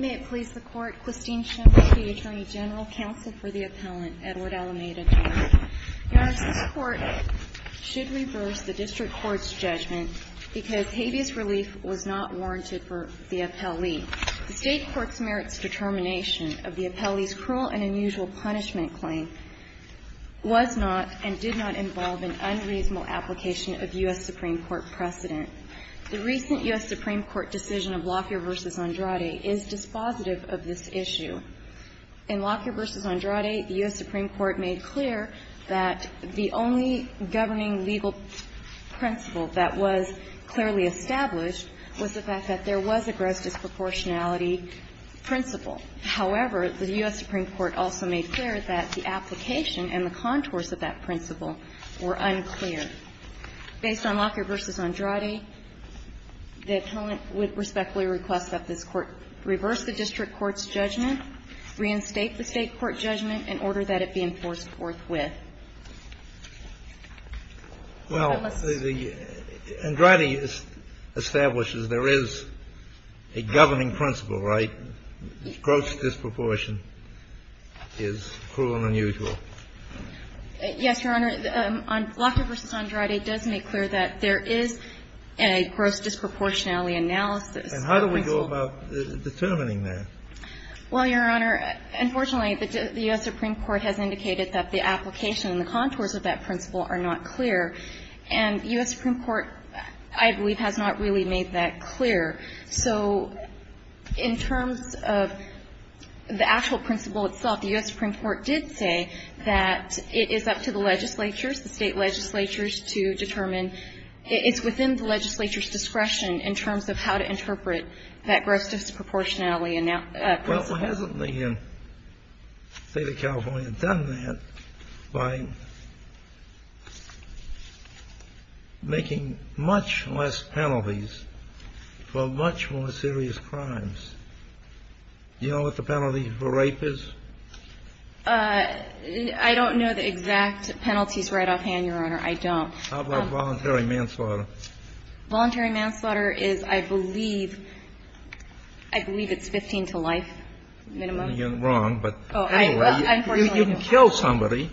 May it please the Court, Christine Schiml, State Attorney General, Counsel for the Appellant, Edward Alameda, Jr. Your Honor, this Court should reverse the District Court's judgment because habeas relief was not warranted for the appellee. The State Court's merits determination of the appellee's cruel and unusual punishment claim was not and did not involve an unreasonable application of U.S. Supreme Court precedent. The recent U.S. Supreme Court decision of Lockyer v. Andrade is dispositive of this issue. In Lockyer v. Andrade, the U.S. Supreme Court made clear that the only governing legal principle that was clearly established was the fact that there was a gross disproportionality However, the U.S. Supreme Court also made clear that the application and the contours of that principle were unclear. Based on Lockyer v. Andrade, the appellant would respectfully request that this Court reverse the District Court's judgment, reinstate the State Court judgment in order that it be enforced forthwith. Well, Andrade establishes there is a governing principle, right? Gross disproportion is cruel and unusual. Yes, Your Honor. Lockyer v. Andrade does make clear that there is a gross disproportionality analysis. And how do we go about determining that? Well, Your Honor, unfortunately, the U.S. Supreme Court has indicated that the application and the contours of that principle are not clear. And U.S. Supreme Court, I believe, has not really made that clear. So in terms of the actual principle itself, the U.S. Supreme Court did say that it is up to the legislatures, the State legislatures, to determine. It's within the legislature's discretion in terms of how to interpret that gross disproportionality principle. Well, hasn't the State of California done that by making much less penalties for much more serious crimes? Do you know what the penalty for rape is? I don't know the exact penalties right offhand, Your Honor. I don't. How about voluntary manslaughter? Voluntary manslaughter is, I believe, I believe it's 15 to life minimum. You're wrong, but anyway, you can kill somebody,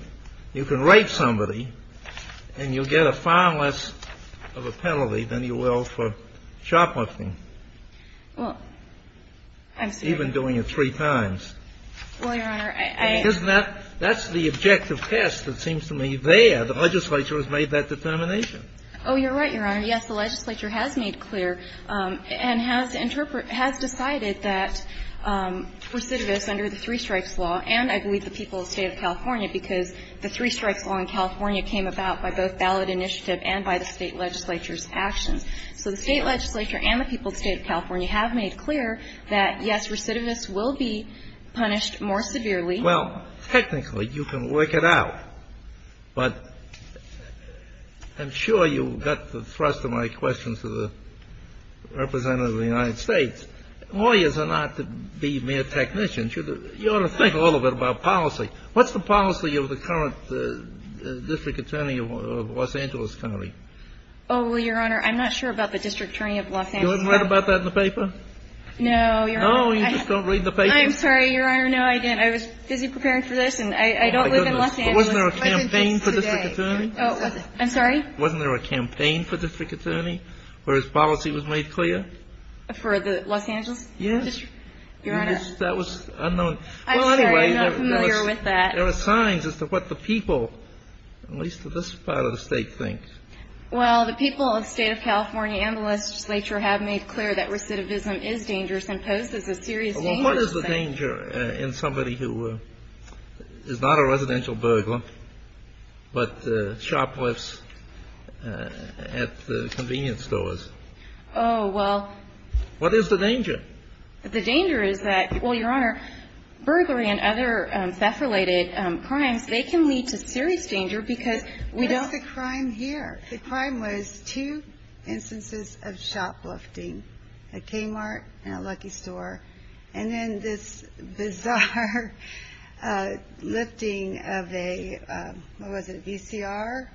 you can rape somebody, and you'll get a far less of a penalty than you will for shoplifting. Well, I'm sorry. Even doing it three times. Well, Your Honor, I. Isn't that? That's the objective test that seems to me there. The legislature has made that determination. Oh, you're right, Your Honor. Yes, the legislature has made clear and has decided that recidivists under the three-strikes law, and I believe the people of the State of California because the three-strikes law in California came about by both ballot initiative and by the State legislature's actions. So the State legislature and the people of the State of California have made clear that, yes, recidivists will be punished more severely. Well, technically, you can work it out, but I'm sure you got the thrust of my question to the representative of the United States. Lawyers are not to be mere technicians. You ought to think a little bit about policy. What's the policy of the current district attorney of Los Angeles County? Oh, well, Your Honor, I'm not sure about the district attorney of Los Angeles County. You haven't read about that in the paper? No, Your Honor. No, you just don't read the paper? I'm sorry, Your Honor. No, I didn't. I was busy preparing for this, and I don't live in Los Angeles. Wasn't there a campaign for district attorney? Oh, I'm sorry? Wasn't there a campaign for district attorney where his policy was made clear? For the Los Angeles? Yes. Your Honor. That was unknown. I'm sorry. I'm not familiar with that. There are signs as to what the people, at least in this part of the state, think. Well, the people of the state of California and the legislature have made clear that recidivism is dangerous and poses a serious danger. Well, what is the danger in somebody who is not a residential burglar but shoplifts at convenience stores? Oh, well. What is the danger? The danger is that, well, Your Honor, burglary and other theft-related crimes, they can lead to serious danger because we don't What is the crime here? The crime was two instances of shoplifting, a Kmart and a Lucky Store, and then this bizarre lifting of a, what was it, a VCR?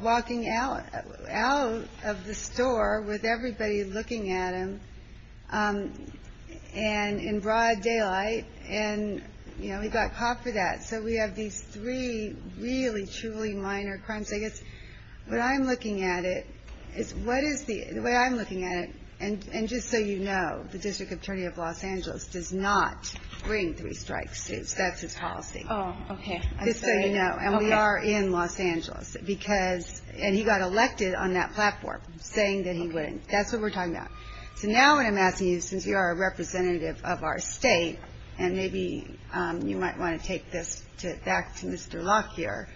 Walking out of the store with everybody looking at him in broad daylight, and, you know, he got caught for that. So we have these three really, truly minor crimes. I guess what I'm looking at it is what is the way I'm looking at it, and just so you know, the district attorney of Los Angeles does not bring three-strike suits. That's his policy. Oh, okay. Just so you know. And we are in Los Angeles because, and he got elected on that platform saying that he wouldn't. That's what we're talking about. So now what I'm asking you, since you are a representative of our state, and maybe you might want to take this back to Mr. Locke here,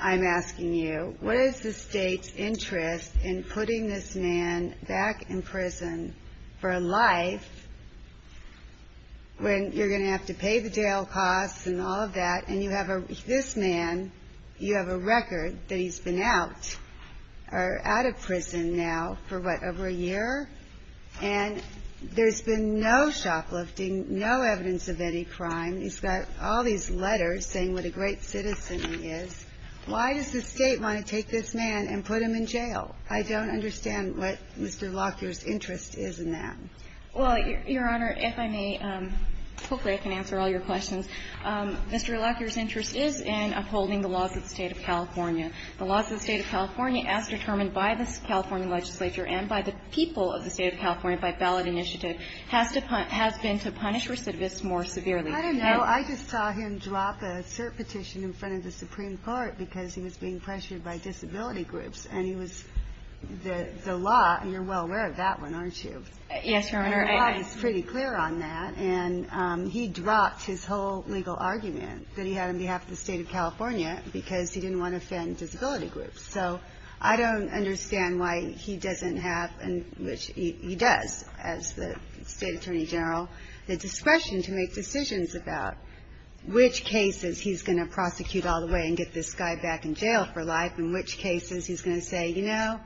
I'm asking you, what is the state's interest in putting this man back in prison for life when you're going to have to pay the jail costs and all of that, and you have this man, you have a record that he's been out or out of prison now for, what, over a year? And there's been no shoplifting, no evidence of any crime. He's got all these letters saying what a great citizen he is. Why does the state want to take this man and put him in jail? I don't understand what Mr. Locke's interest is in that. Well, Your Honor, if I may, hopefully I can answer all your questions. Mr. Locke, your interest is in upholding the laws of the State of California. The laws of the State of California, as determined by the California legislature and by the people of the State of California by ballot initiative, has been to punish recidivists more severely. I don't know. I just saw him drop a cert petition in front of the Supreme Court because he was being pressured by disability groups. And he was the law, and you're well aware of that one, aren't you? Yes, Your Honor. Mr. Locke is pretty clear on that. And he dropped his whole legal argument that he had on behalf of the State of California because he didn't want to offend disability groups. So I don't understand why he doesn't have, which he does as the State Attorney General, the discretion to make decisions about which cases he's going to prosecute all the way and get this guy back in jail for life and which cases he's going to say, you know,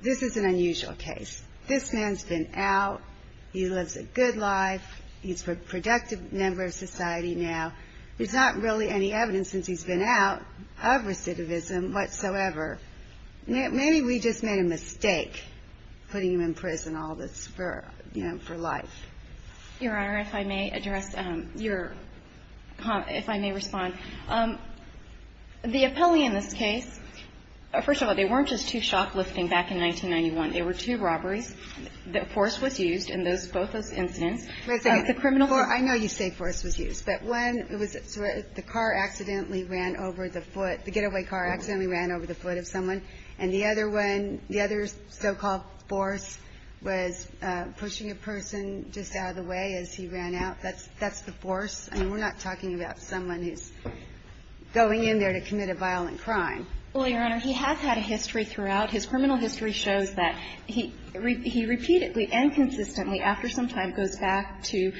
this is an unusual case. This man's been out. He lives a good life. He's a productive member of society now. There's not really any evidence since he's been out of recidivism whatsoever. Maybe we just made a mistake putting him in prison all this for, you know, for life. Your Honor, if I may address your comment, if I may respond. The appellee in this case, first of all, they weren't just two shoplifting back in 1991. They were two robberies. The force was used in those, both those incidents. The criminal force. I know you say force was used. But one, it was the car accidentally ran over the foot. The getaway car accidentally ran over the foot of someone. And the other one, the other so-called force was pushing a person just out of the way as he ran out. That's the force. I mean, we're not talking about someone who's going in there to commit a violent crime. Well, Your Honor, he has had a history throughout. His criminal history shows that he repeatedly and consistently after some time goes back to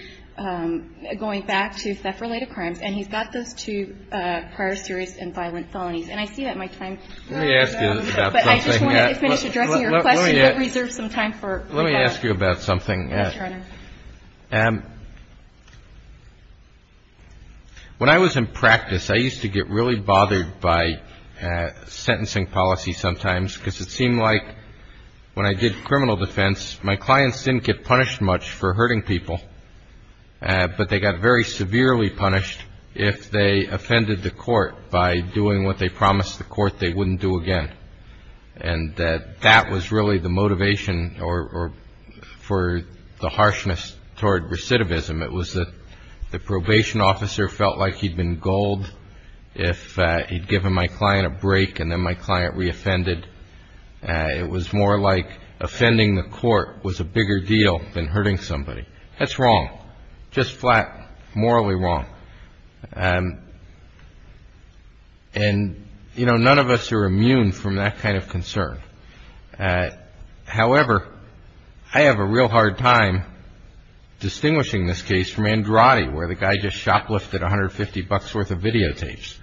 going back to theft-related crimes. And he's got those two prior serious and violent felonies. And I see that my time is running out. Let me ask you about something. But I just want to finish addressing your question but reserve some time for rebuttal. Let me ask you about something. Yes, Your Honor. When I was in practice, I used to get really bothered by sentencing policy sometimes because it seemed like when I did criminal defense, my clients didn't get punished much for hurting people. But they got very severely punished if they offended the court by doing what they promised the court they wouldn't do again. And that was really the motivation for the harshness toward recidivism. It was that the probation officer felt like he'd been galled if he'd given my client a break and then my client reoffended. It was more like offending the court was a bigger deal than hurting somebody. That's wrong, just flat morally wrong. And, you know, none of us are immune from that kind of concern. However, I have a real hard time distinguishing this case from Andrade where the guy just shoplifted $150 worth of videotapes.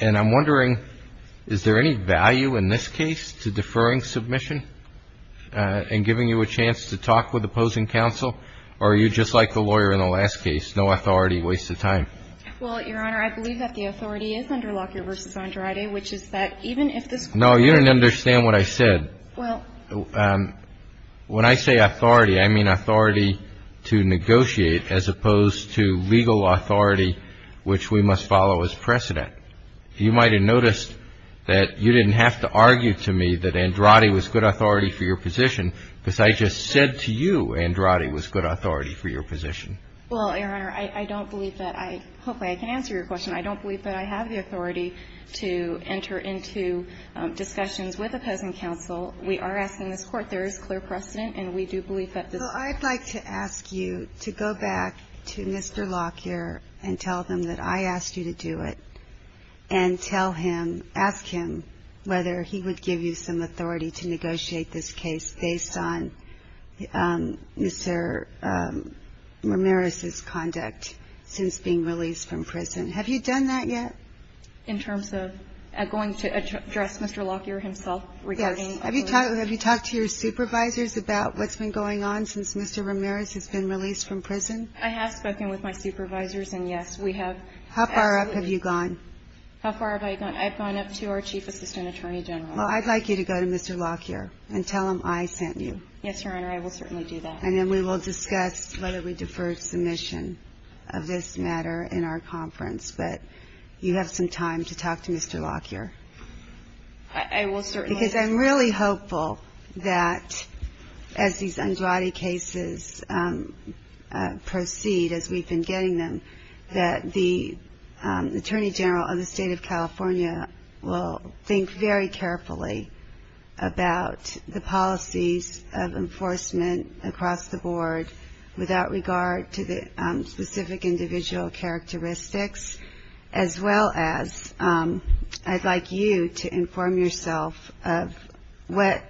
And I'm wondering, is there any value in this case to deferring submission and giving you a chance to talk with opposing counsel? Or are you just like the lawyer in the last case, no authority, waste of time? Well, Your Honor, I believe that the authority is under Lockyer v. Andrade, which is that even if this court ---- No, you didn't understand what I said. Well ---- When I say authority, I mean authority to negotiate as opposed to legal authority, which we must follow as precedent. You might have noticed that you didn't have to argue to me that Andrade was good authority for your position because I just said to you Andrade was good authority for your position. Well, Your Honor, I don't believe that I ---- hopefully I can answer your question. I don't believe that I have the authority to enter into discussions with opposing counsel. We are asking this court. There is clear precedent, and we do believe that this ---- Well, I'd like to ask you to go back to Mr. Lockyer and tell him that I asked you to do it and tell him, ask him whether he would give you some authority to negotiate this case based on Mr. Ramirez's conduct since being released from prison. Have you done that yet? In terms of going to address Mr. Lockyer himself regarding ---- Yes. Have you talked to your supervisors about what's been going on since Mr. Ramirez has been released from prison? I have spoken with my supervisors, and, yes, we have ---- How far up have you gone? How far have I gone? I've gone up to our Chief Assistant Attorney General. Well, I'd like you to go to Mr. Lockyer and tell him I sent you. Yes, Your Honor. I will certainly do that. And then we will discuss whether we defer submission of this matter in our conference. But you have some time to talk to Mr. Lockyer. I will certainly do that. Because I'm really hopeful that as these Andrade cases proceed, as we've been getting them, that the Attorney General of the State of California will think very carefully about the policies of enforcement across the board without regard to the specific individual characteristics, as well as I'd like you to inform yourself of what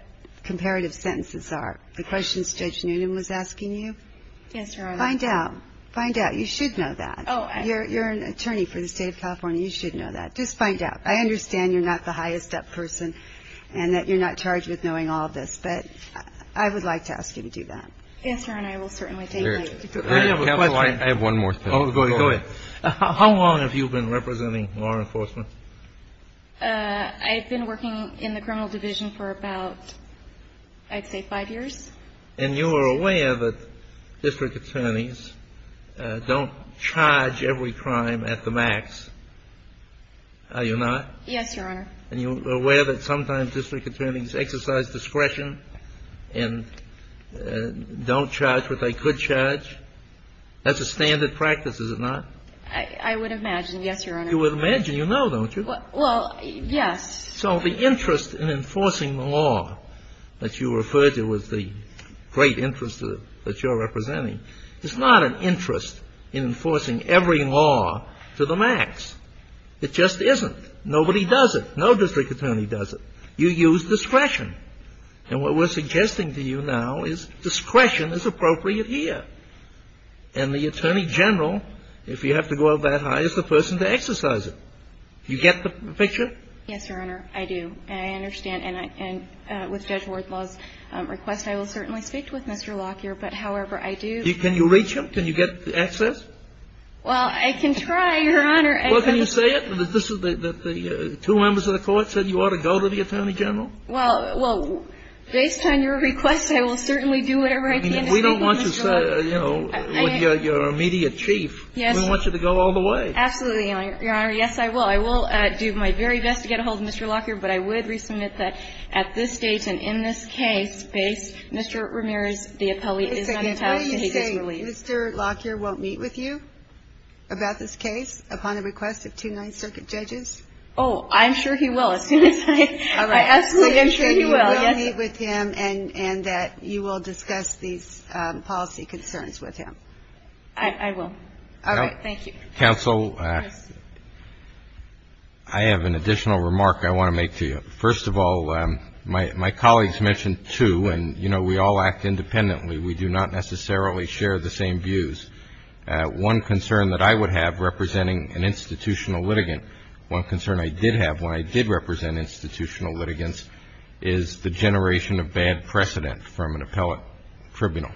comparative sentences are. The questions Judge Noonan was asking you? Yes, Your Honor. Find out. Find out. You should know that. You're an attorney for the State of California. You should know that. Just find out. I understand you're not the highest up person and that you're not charged with knowing all this, but I would like to ask you to do that. Yes, Your Honor. I will certainly take that. Counsel, I have one more thing. Oh, go ahead. How long have you been representing law enforcement? I've been working in the criminal division for about, I'd say, five years. And you are aware that district attorneys don't charge every crime at the max, are you not? Yes, Your Honor. And you're aware that sometimes district attorneys exercise discretion and don't charge what they could charge? That's a standard practice, is it not? I would imagine, yes, Your Honor. You would imagine. You know, don't you? Well, yes. So the interest in enforcing the law that you referred to as the great interest that you're representing, is not an interest in enforcing every law to the max. It just isn't. Nobody does it. No district attorney does it. You use discretion. And what we're suggesting to you now is discretion is appropriate here. And the attorney general, if you have to go that high, is the person to exercise it. You get the picture? Yes, Your Honor, I do. And I understand. And with Judge Wardlaw's request, I will certainly speak with Mr. Lockyer. But however, I do – Can you reach him? Can you get access? Well, I can try, Your Honor. Well, can you say it? That the two members of the Court said you ought to go to the attorney general? Well, based on your request, I will certainly do whatever I can to speak with Mr. Lockyer. We don't want you, you know, your immediate chief. Yes. We want you to go all the way. Absolutely, Your Honor. Yes, I will. I will do my very best to get a hold of Mr. Lockyer. But I would resubmit that at this date and in this case, Mr. Ramirez, the appellee, is not entitled to hate this relief. Mr. Lockyer won't meet with you about this case upon the request of two Ninth Circuit judges? Oh, I'm sure he will. As soon as I ask him, I'm sure he will. You will meet with him and that you will discuss these policy concerns with him? I will. All right. Thank you. Counsel, I have an additional remark I want to make to you. First of all, my colleagues mentioned, too, and, you know, we all act independently. We do not necessarily share the same views. One concern that I would have representing an institutional litigant, one concern I did have when I did represent institutional litigants, is the generation of bad precedent from an appellate tribunal.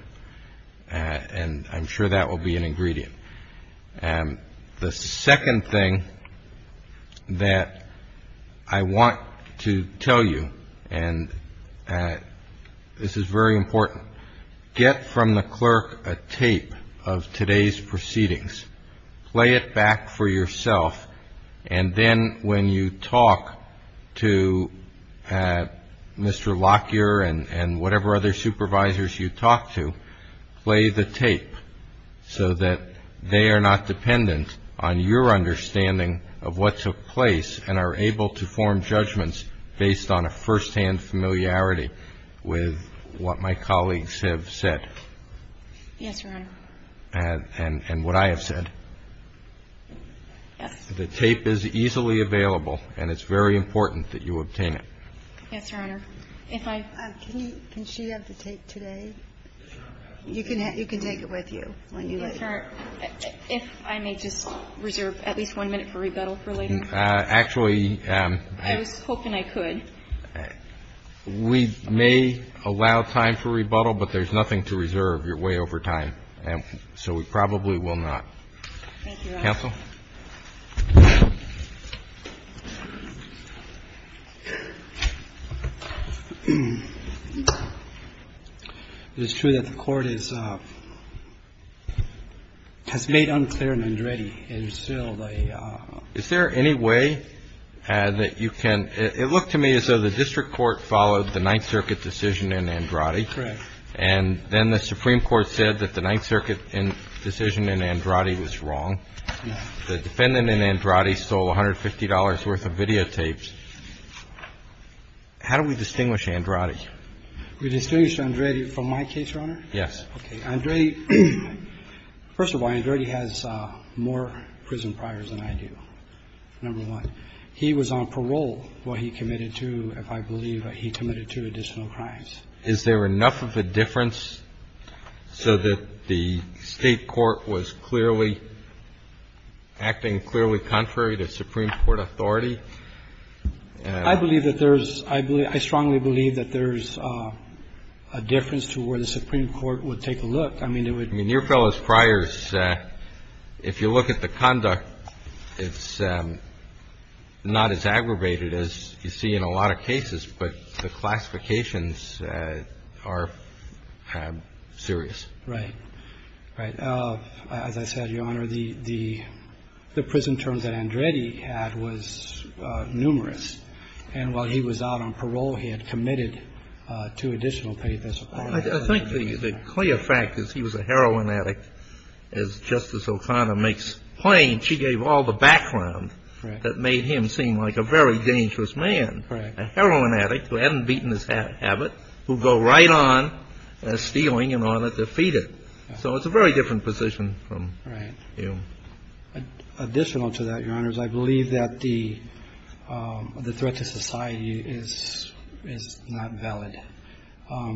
The second thing that I want to tell you, and this is very important, get from the clerk a tape of today's proceedings, play it back for yourself, and then when you talk to Mr. Lockyer and whatever other supervisors you talk to, play the tape so that they are not dependent on your understanding of what took place and are able to form judgments based on a firsthand familiarity with what my colleagues have said. Yes, Your Honor. And what I have said. Yes. The tape is easily available, and it's very important that you obtain it. Yes, Your Honor. Can she have the tape today? You can take it with you when you leave. If I may just reserve at least one minute for rebuttal for later. Actually. I was hoping I could. We may allow time for rebuttal, but there's nothing to reserve. You're way over time. So we probably will not. Thank you, Your Honor. Counsel. It is true that the Court has made unclear Nandrati and still the. Is there any way that you can. It looked to me as though the district court followed the Ninth Circuit decision in Nandrati. Correct. And then the Supreme Court said that the Ninth Circuit decision in Nandrati was wrong. The defendant in Nandrati sold $150 worth of videotapes. How do we distinguish Nandrati? We distinguish Nandrati from my case, Your Honor. Yes. Okay. Nandrati. First of all, Nandrati has more prison priors than I do. Number one. He was on parole. What he committed to, if I believe, he committed two additional crimes. Is there enough of a difference so that the State court was clearly acting clearly contrary to Supreme Court authority? I believe that there is. I strongly believe that there is a difference to where the Supreme Court would take a look. I mean, it would. I mean, your fellow's priors, if you look at the conduct, it's not as aggravated as you see in a lot of cases. But the classifications are serious. Right. Right. As I said, Your Honor, the prison terms that Nandrati had was numerous. And while he was out on parole, he had committed two additional paid disciplinary charges. I think the clear fact is he was a heroin addict, as Justice O'Connor makes plain. She gave all the background that made him seem like a very dangerous man. Right. A heroin addict who hadn't beaten his habit, who'd go right on stealing in order to defeat him. So it's a very different position from you. Right. Additional to that, Your Honors, I believe that the threat to society is not valid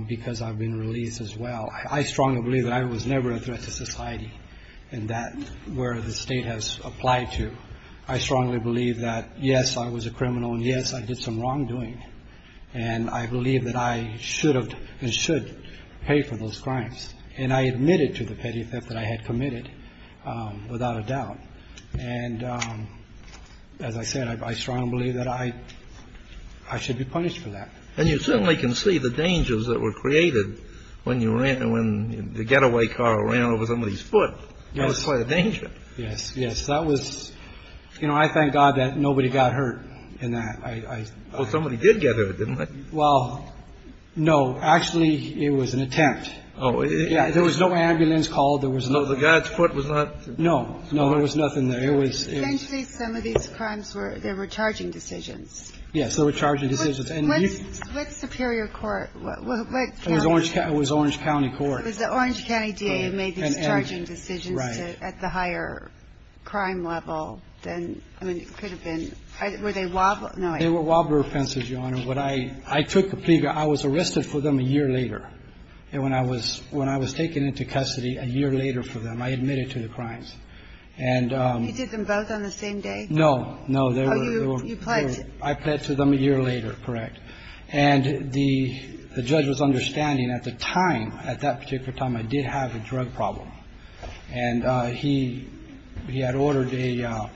because I've been released as well. I strongly believe that I was never a threat to society and that where the State has applied to. I strongly believe that, yes, I was a criminal and, yes, I did some wrongdoing. And I believe that I should have and should pay for those crimes. And I admitted to the petty theft that I had committed without a doubt. And as I said, I strongly believe that I should be punished for that. And you certainly can see the dangers that were created when you ran and when the getaway car ran over somebody's foot. Yes. That was quite a danger. Yes. Yes. That was, you know, I thank God that nobody got hurt in that. Well, somebody did get hurt, didn't they? Well, no. Actually, it was an attempt. Oh. Yeah. There was no ambulance call. There was no. So the guy's foot was not. No. No, there was nothing there. It was. And eventually some of these crimes were, they were charging decisions. Yes. They were charging decisions. And you. What superior court? What county? It was Orange County Court. It was the Orange County DA made these charging decisions at the higher crime level than, I mean, it could have been. Were they wobbly? No. They were wobbly offenses, Your Honor. When I took the plea, I was arrested for them a year later. And when I was taken into custody a year later for them, I admitted to the crimes. And. You did them both on the same day? No. No, they were. Oh, you pledged. I pledged to them a year later. Correct. And the judge was understanding at the time, at that particular time, I did have a drug problem. And he had ordered a,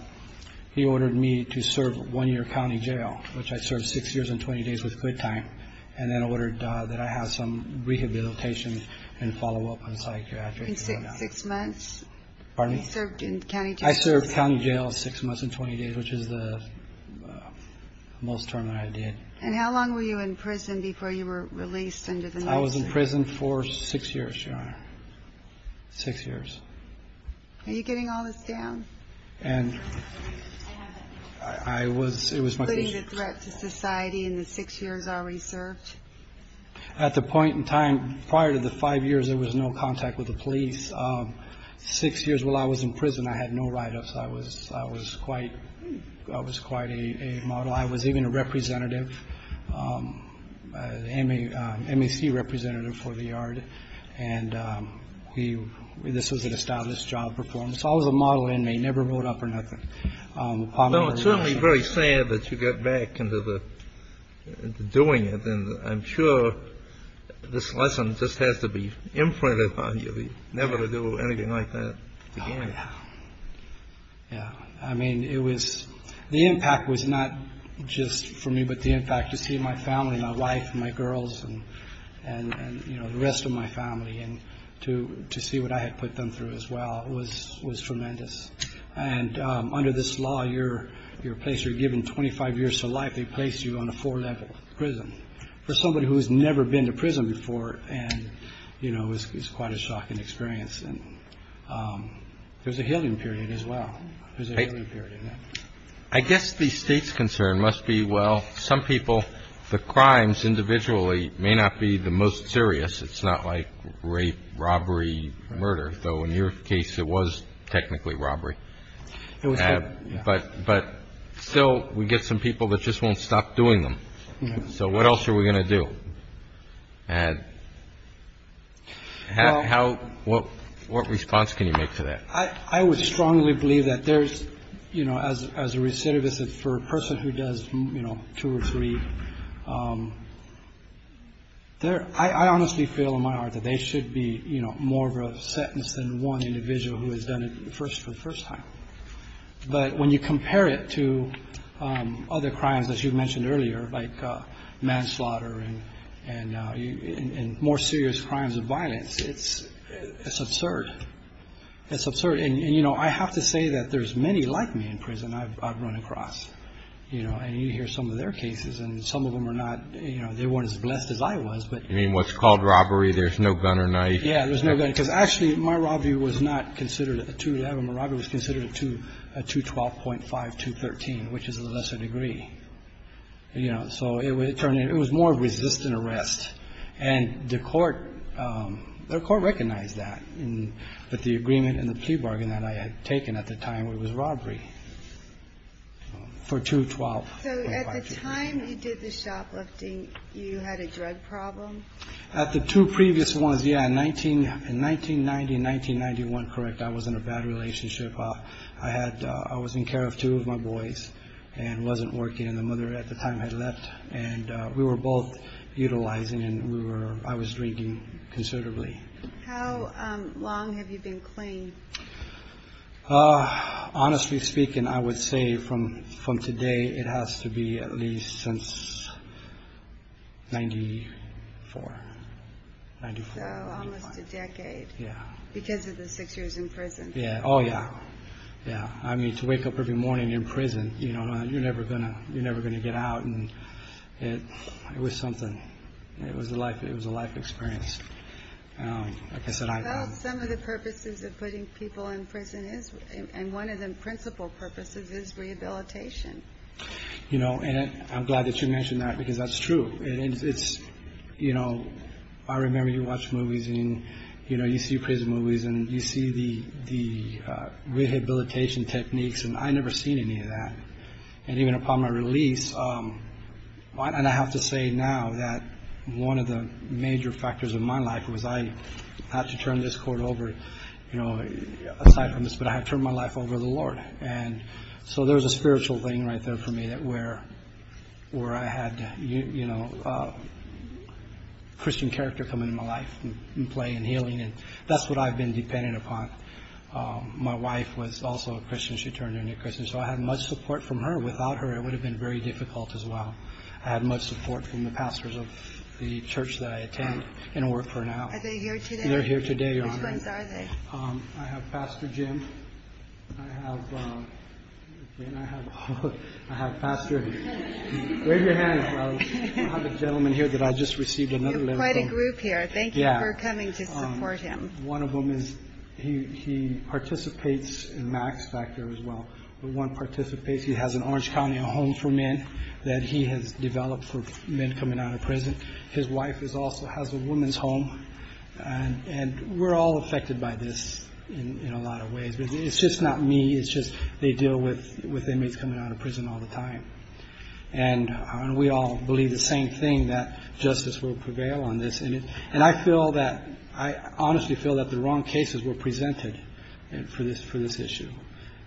he ordered me to serve one year county jail, which I served six years and 20 days with quit time, and then ordered that I have some rehabilitation and follow up on psychiatric. In six months? Pardon me? You served in county jail? I served county jail six months and 20 days, which is the most term that I did. And how long were you in prison before you were released under the... I was in prison for six years, Your Honor. Six years. Are you getting all this down? And I was, it was my... Including the threat to society in the six years already served? At the point in time, prior to the five years, there was no contact with the police. Six years while I was in prison, I had no write-ups. I was quite, I was quite a model. I was even a representative, M.A.C. representative for the yard. And we, this was an established job performance. I was a model inmate, never wrote up or nothing. No, it's certainly very sad that you got back into the, doing it. And I'm sure this lesson just has to be imprinted on you. Never to do anything like that again. Oh, yeah. Yeah, I mean, it was, the impact was not just for me, but the impact to see my family, my wife, my girls, and, you know, the rest of my family, and to see what I had put them through as well was tremendous. And under this law, you're placed, you're given 25 years to life. They placed you on a four-level prison. For somebody who has never been to prison before, and, you know, it was quite a shocking experience. And there's a healing period as well. There's a healing period in that. I guess the State's concern must be, well, some people, the crimes individually may not be the most serious. It's not like rape, robbery, murder, though in your case it was technically robbery. It was, yeah. But still, we get some people that just won't stop doing them. So what else are we going to do? And how, what response can you make to that? I would strongly believe that there's, you know, as a recidivist, for a person who does, you know, two or three, I honestly feel in my heart that they should be, you know, more of a sentence than one individual who has done it for the first time. But when you compare it to other crimes, as you mentioned earlier, like manslaughter and more serious crimes of violence, it's absurd. It's absurd. And, you know, I have to say that there's many like me in prison I've run across. You know, and you hear some of their cases, and some of them are not, you know, they weren't as blessed as I was. You mean what's called robbery, there's no gun or knife. Yeah, there's no gun. Because actually, my robbery was not considered a 2-11. My robbery was considered a 2-12.5-213, which is a lesser degree. So it was more of resistant arrest. And the court, the court recognized that. But the agreement and the plea bargain that I had taken at the time, it was robbery for 2-12. So at the time you did the shoplifting, you had a drug problem? At the two previous ones, yeah, in 1990 and 1991, correct, I was in a bad relationship. I had, I was in care of two of my boys and wasn't working. And the mother at the time had left. And we were both utilizing and we were, I was drinking considerably. How long have you been clean? Honestly speaking, I would say from today, it has to be at least since 1994. So almost a decade. Yeah. Because of the six years in prison. Yeah, oh yeah, yeah. I mean, to wake up every morning in prison, you know, you're never going to get out. And it was something. It was a life experience. Well, some of the purposes of putting people in prison is, and one of the principal purposes is rehabilitation. You know, and I'm glad that you mentioned that because that's true. It's, you know, I remember you watch movies and, you know, you see prison movies and you see the rehabilitation techniques, and I never seen any of that. And even upon my release, and I have to say now that one of the major factors of my life was I had to turn this court over, you know, aside from this, but I had to turn my life over to the Lord. And so there's a spiritual thing right there for me that where I had, you know, Christian character come into my life and play and healing, and that's what I've been dependent upon. My wife was also a Christian. She turned into a Christian. So I had much support from her. Without her, it would have been very difficult as well. I had much support from the pastors of the church that I attend and work for now. Are they here today? They're here today, Your Honor. Which ones are they? I have Pastor Jim. I have, again, I have a pastor here. Wave your hand. I have a gentleman here that I just received another letter from. You have quite a group here. Thank you for coming to support him. Yeah. One of them is he participates in MACS back there as well. He has an Orange County Home for Men that he has developed for men coming out of prison. His wife also has a woman's home. And we're all affected by this in a lot of ways. It's just not me. It's just they deal with inmates coming out of prison all the time. And we all believe the same thing, that justice will prevail on this. And I feel that I honestly feel that the wrong cases were presented for this issue.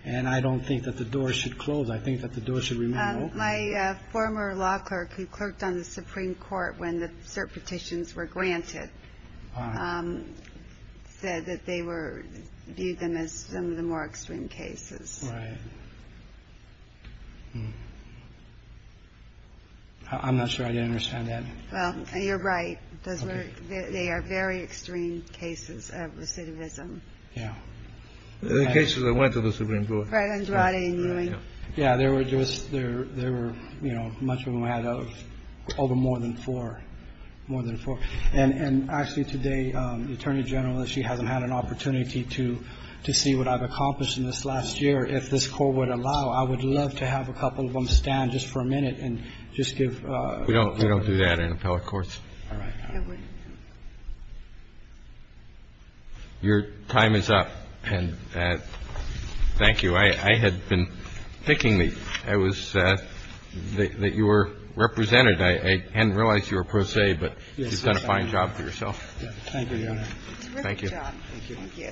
And I don't think that the door should close. I think that the door should remain open. My former law clerk who clerked on the Supreme Court when the cert petitions were granted said that they viewed them as some of the more extreme cases. Right. I'm not sure I understand that. Well, you're right. They are very extreme cases of recidivism. Yeah. The cases that went to the Supreme Court. Right, Andrade and Ewing. Yeah. There were just, there were, you know, much of them had over more than four, more than four. And actually today, the Attorney General, she hasn't had an opportunity to see what I've accomplished in this last year. If this Court would allow, I would love to have a couple of them stand just for a minute and just give. We don't do that in appellate courts. All right. Your time is up. And thank you. I had been thinking that you were represented. I hadn't realized you were pro se, but you've done a fine job for yourself. Thank you, Your Honor. Thank you. Thank you.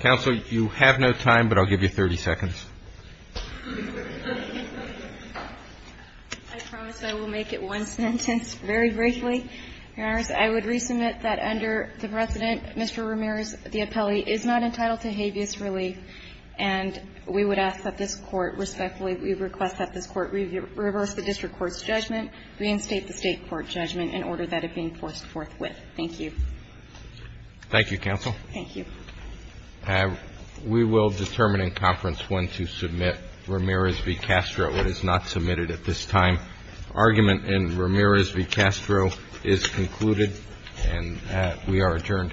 Counsel, you have no time, but I'll give you 30 seconds. I promise I will make it one sentence very briefly, Your Honors. I would resubmit that under the precedent, Mr. Ramirez, the appellee is not entitled to habeas relief, and we would ask that this Court respectfully, we request that this Court reverse the district court's judgment, reinstate the State court judgment in order that it be enforced forthwith. Thank you. Thank you, Counsel. Thank you. We will determine in conference when to submit Ramirez v. Castro. It is not submitted at this time. Argument in Ramirez v. Castro is concluded, and we are adjourned.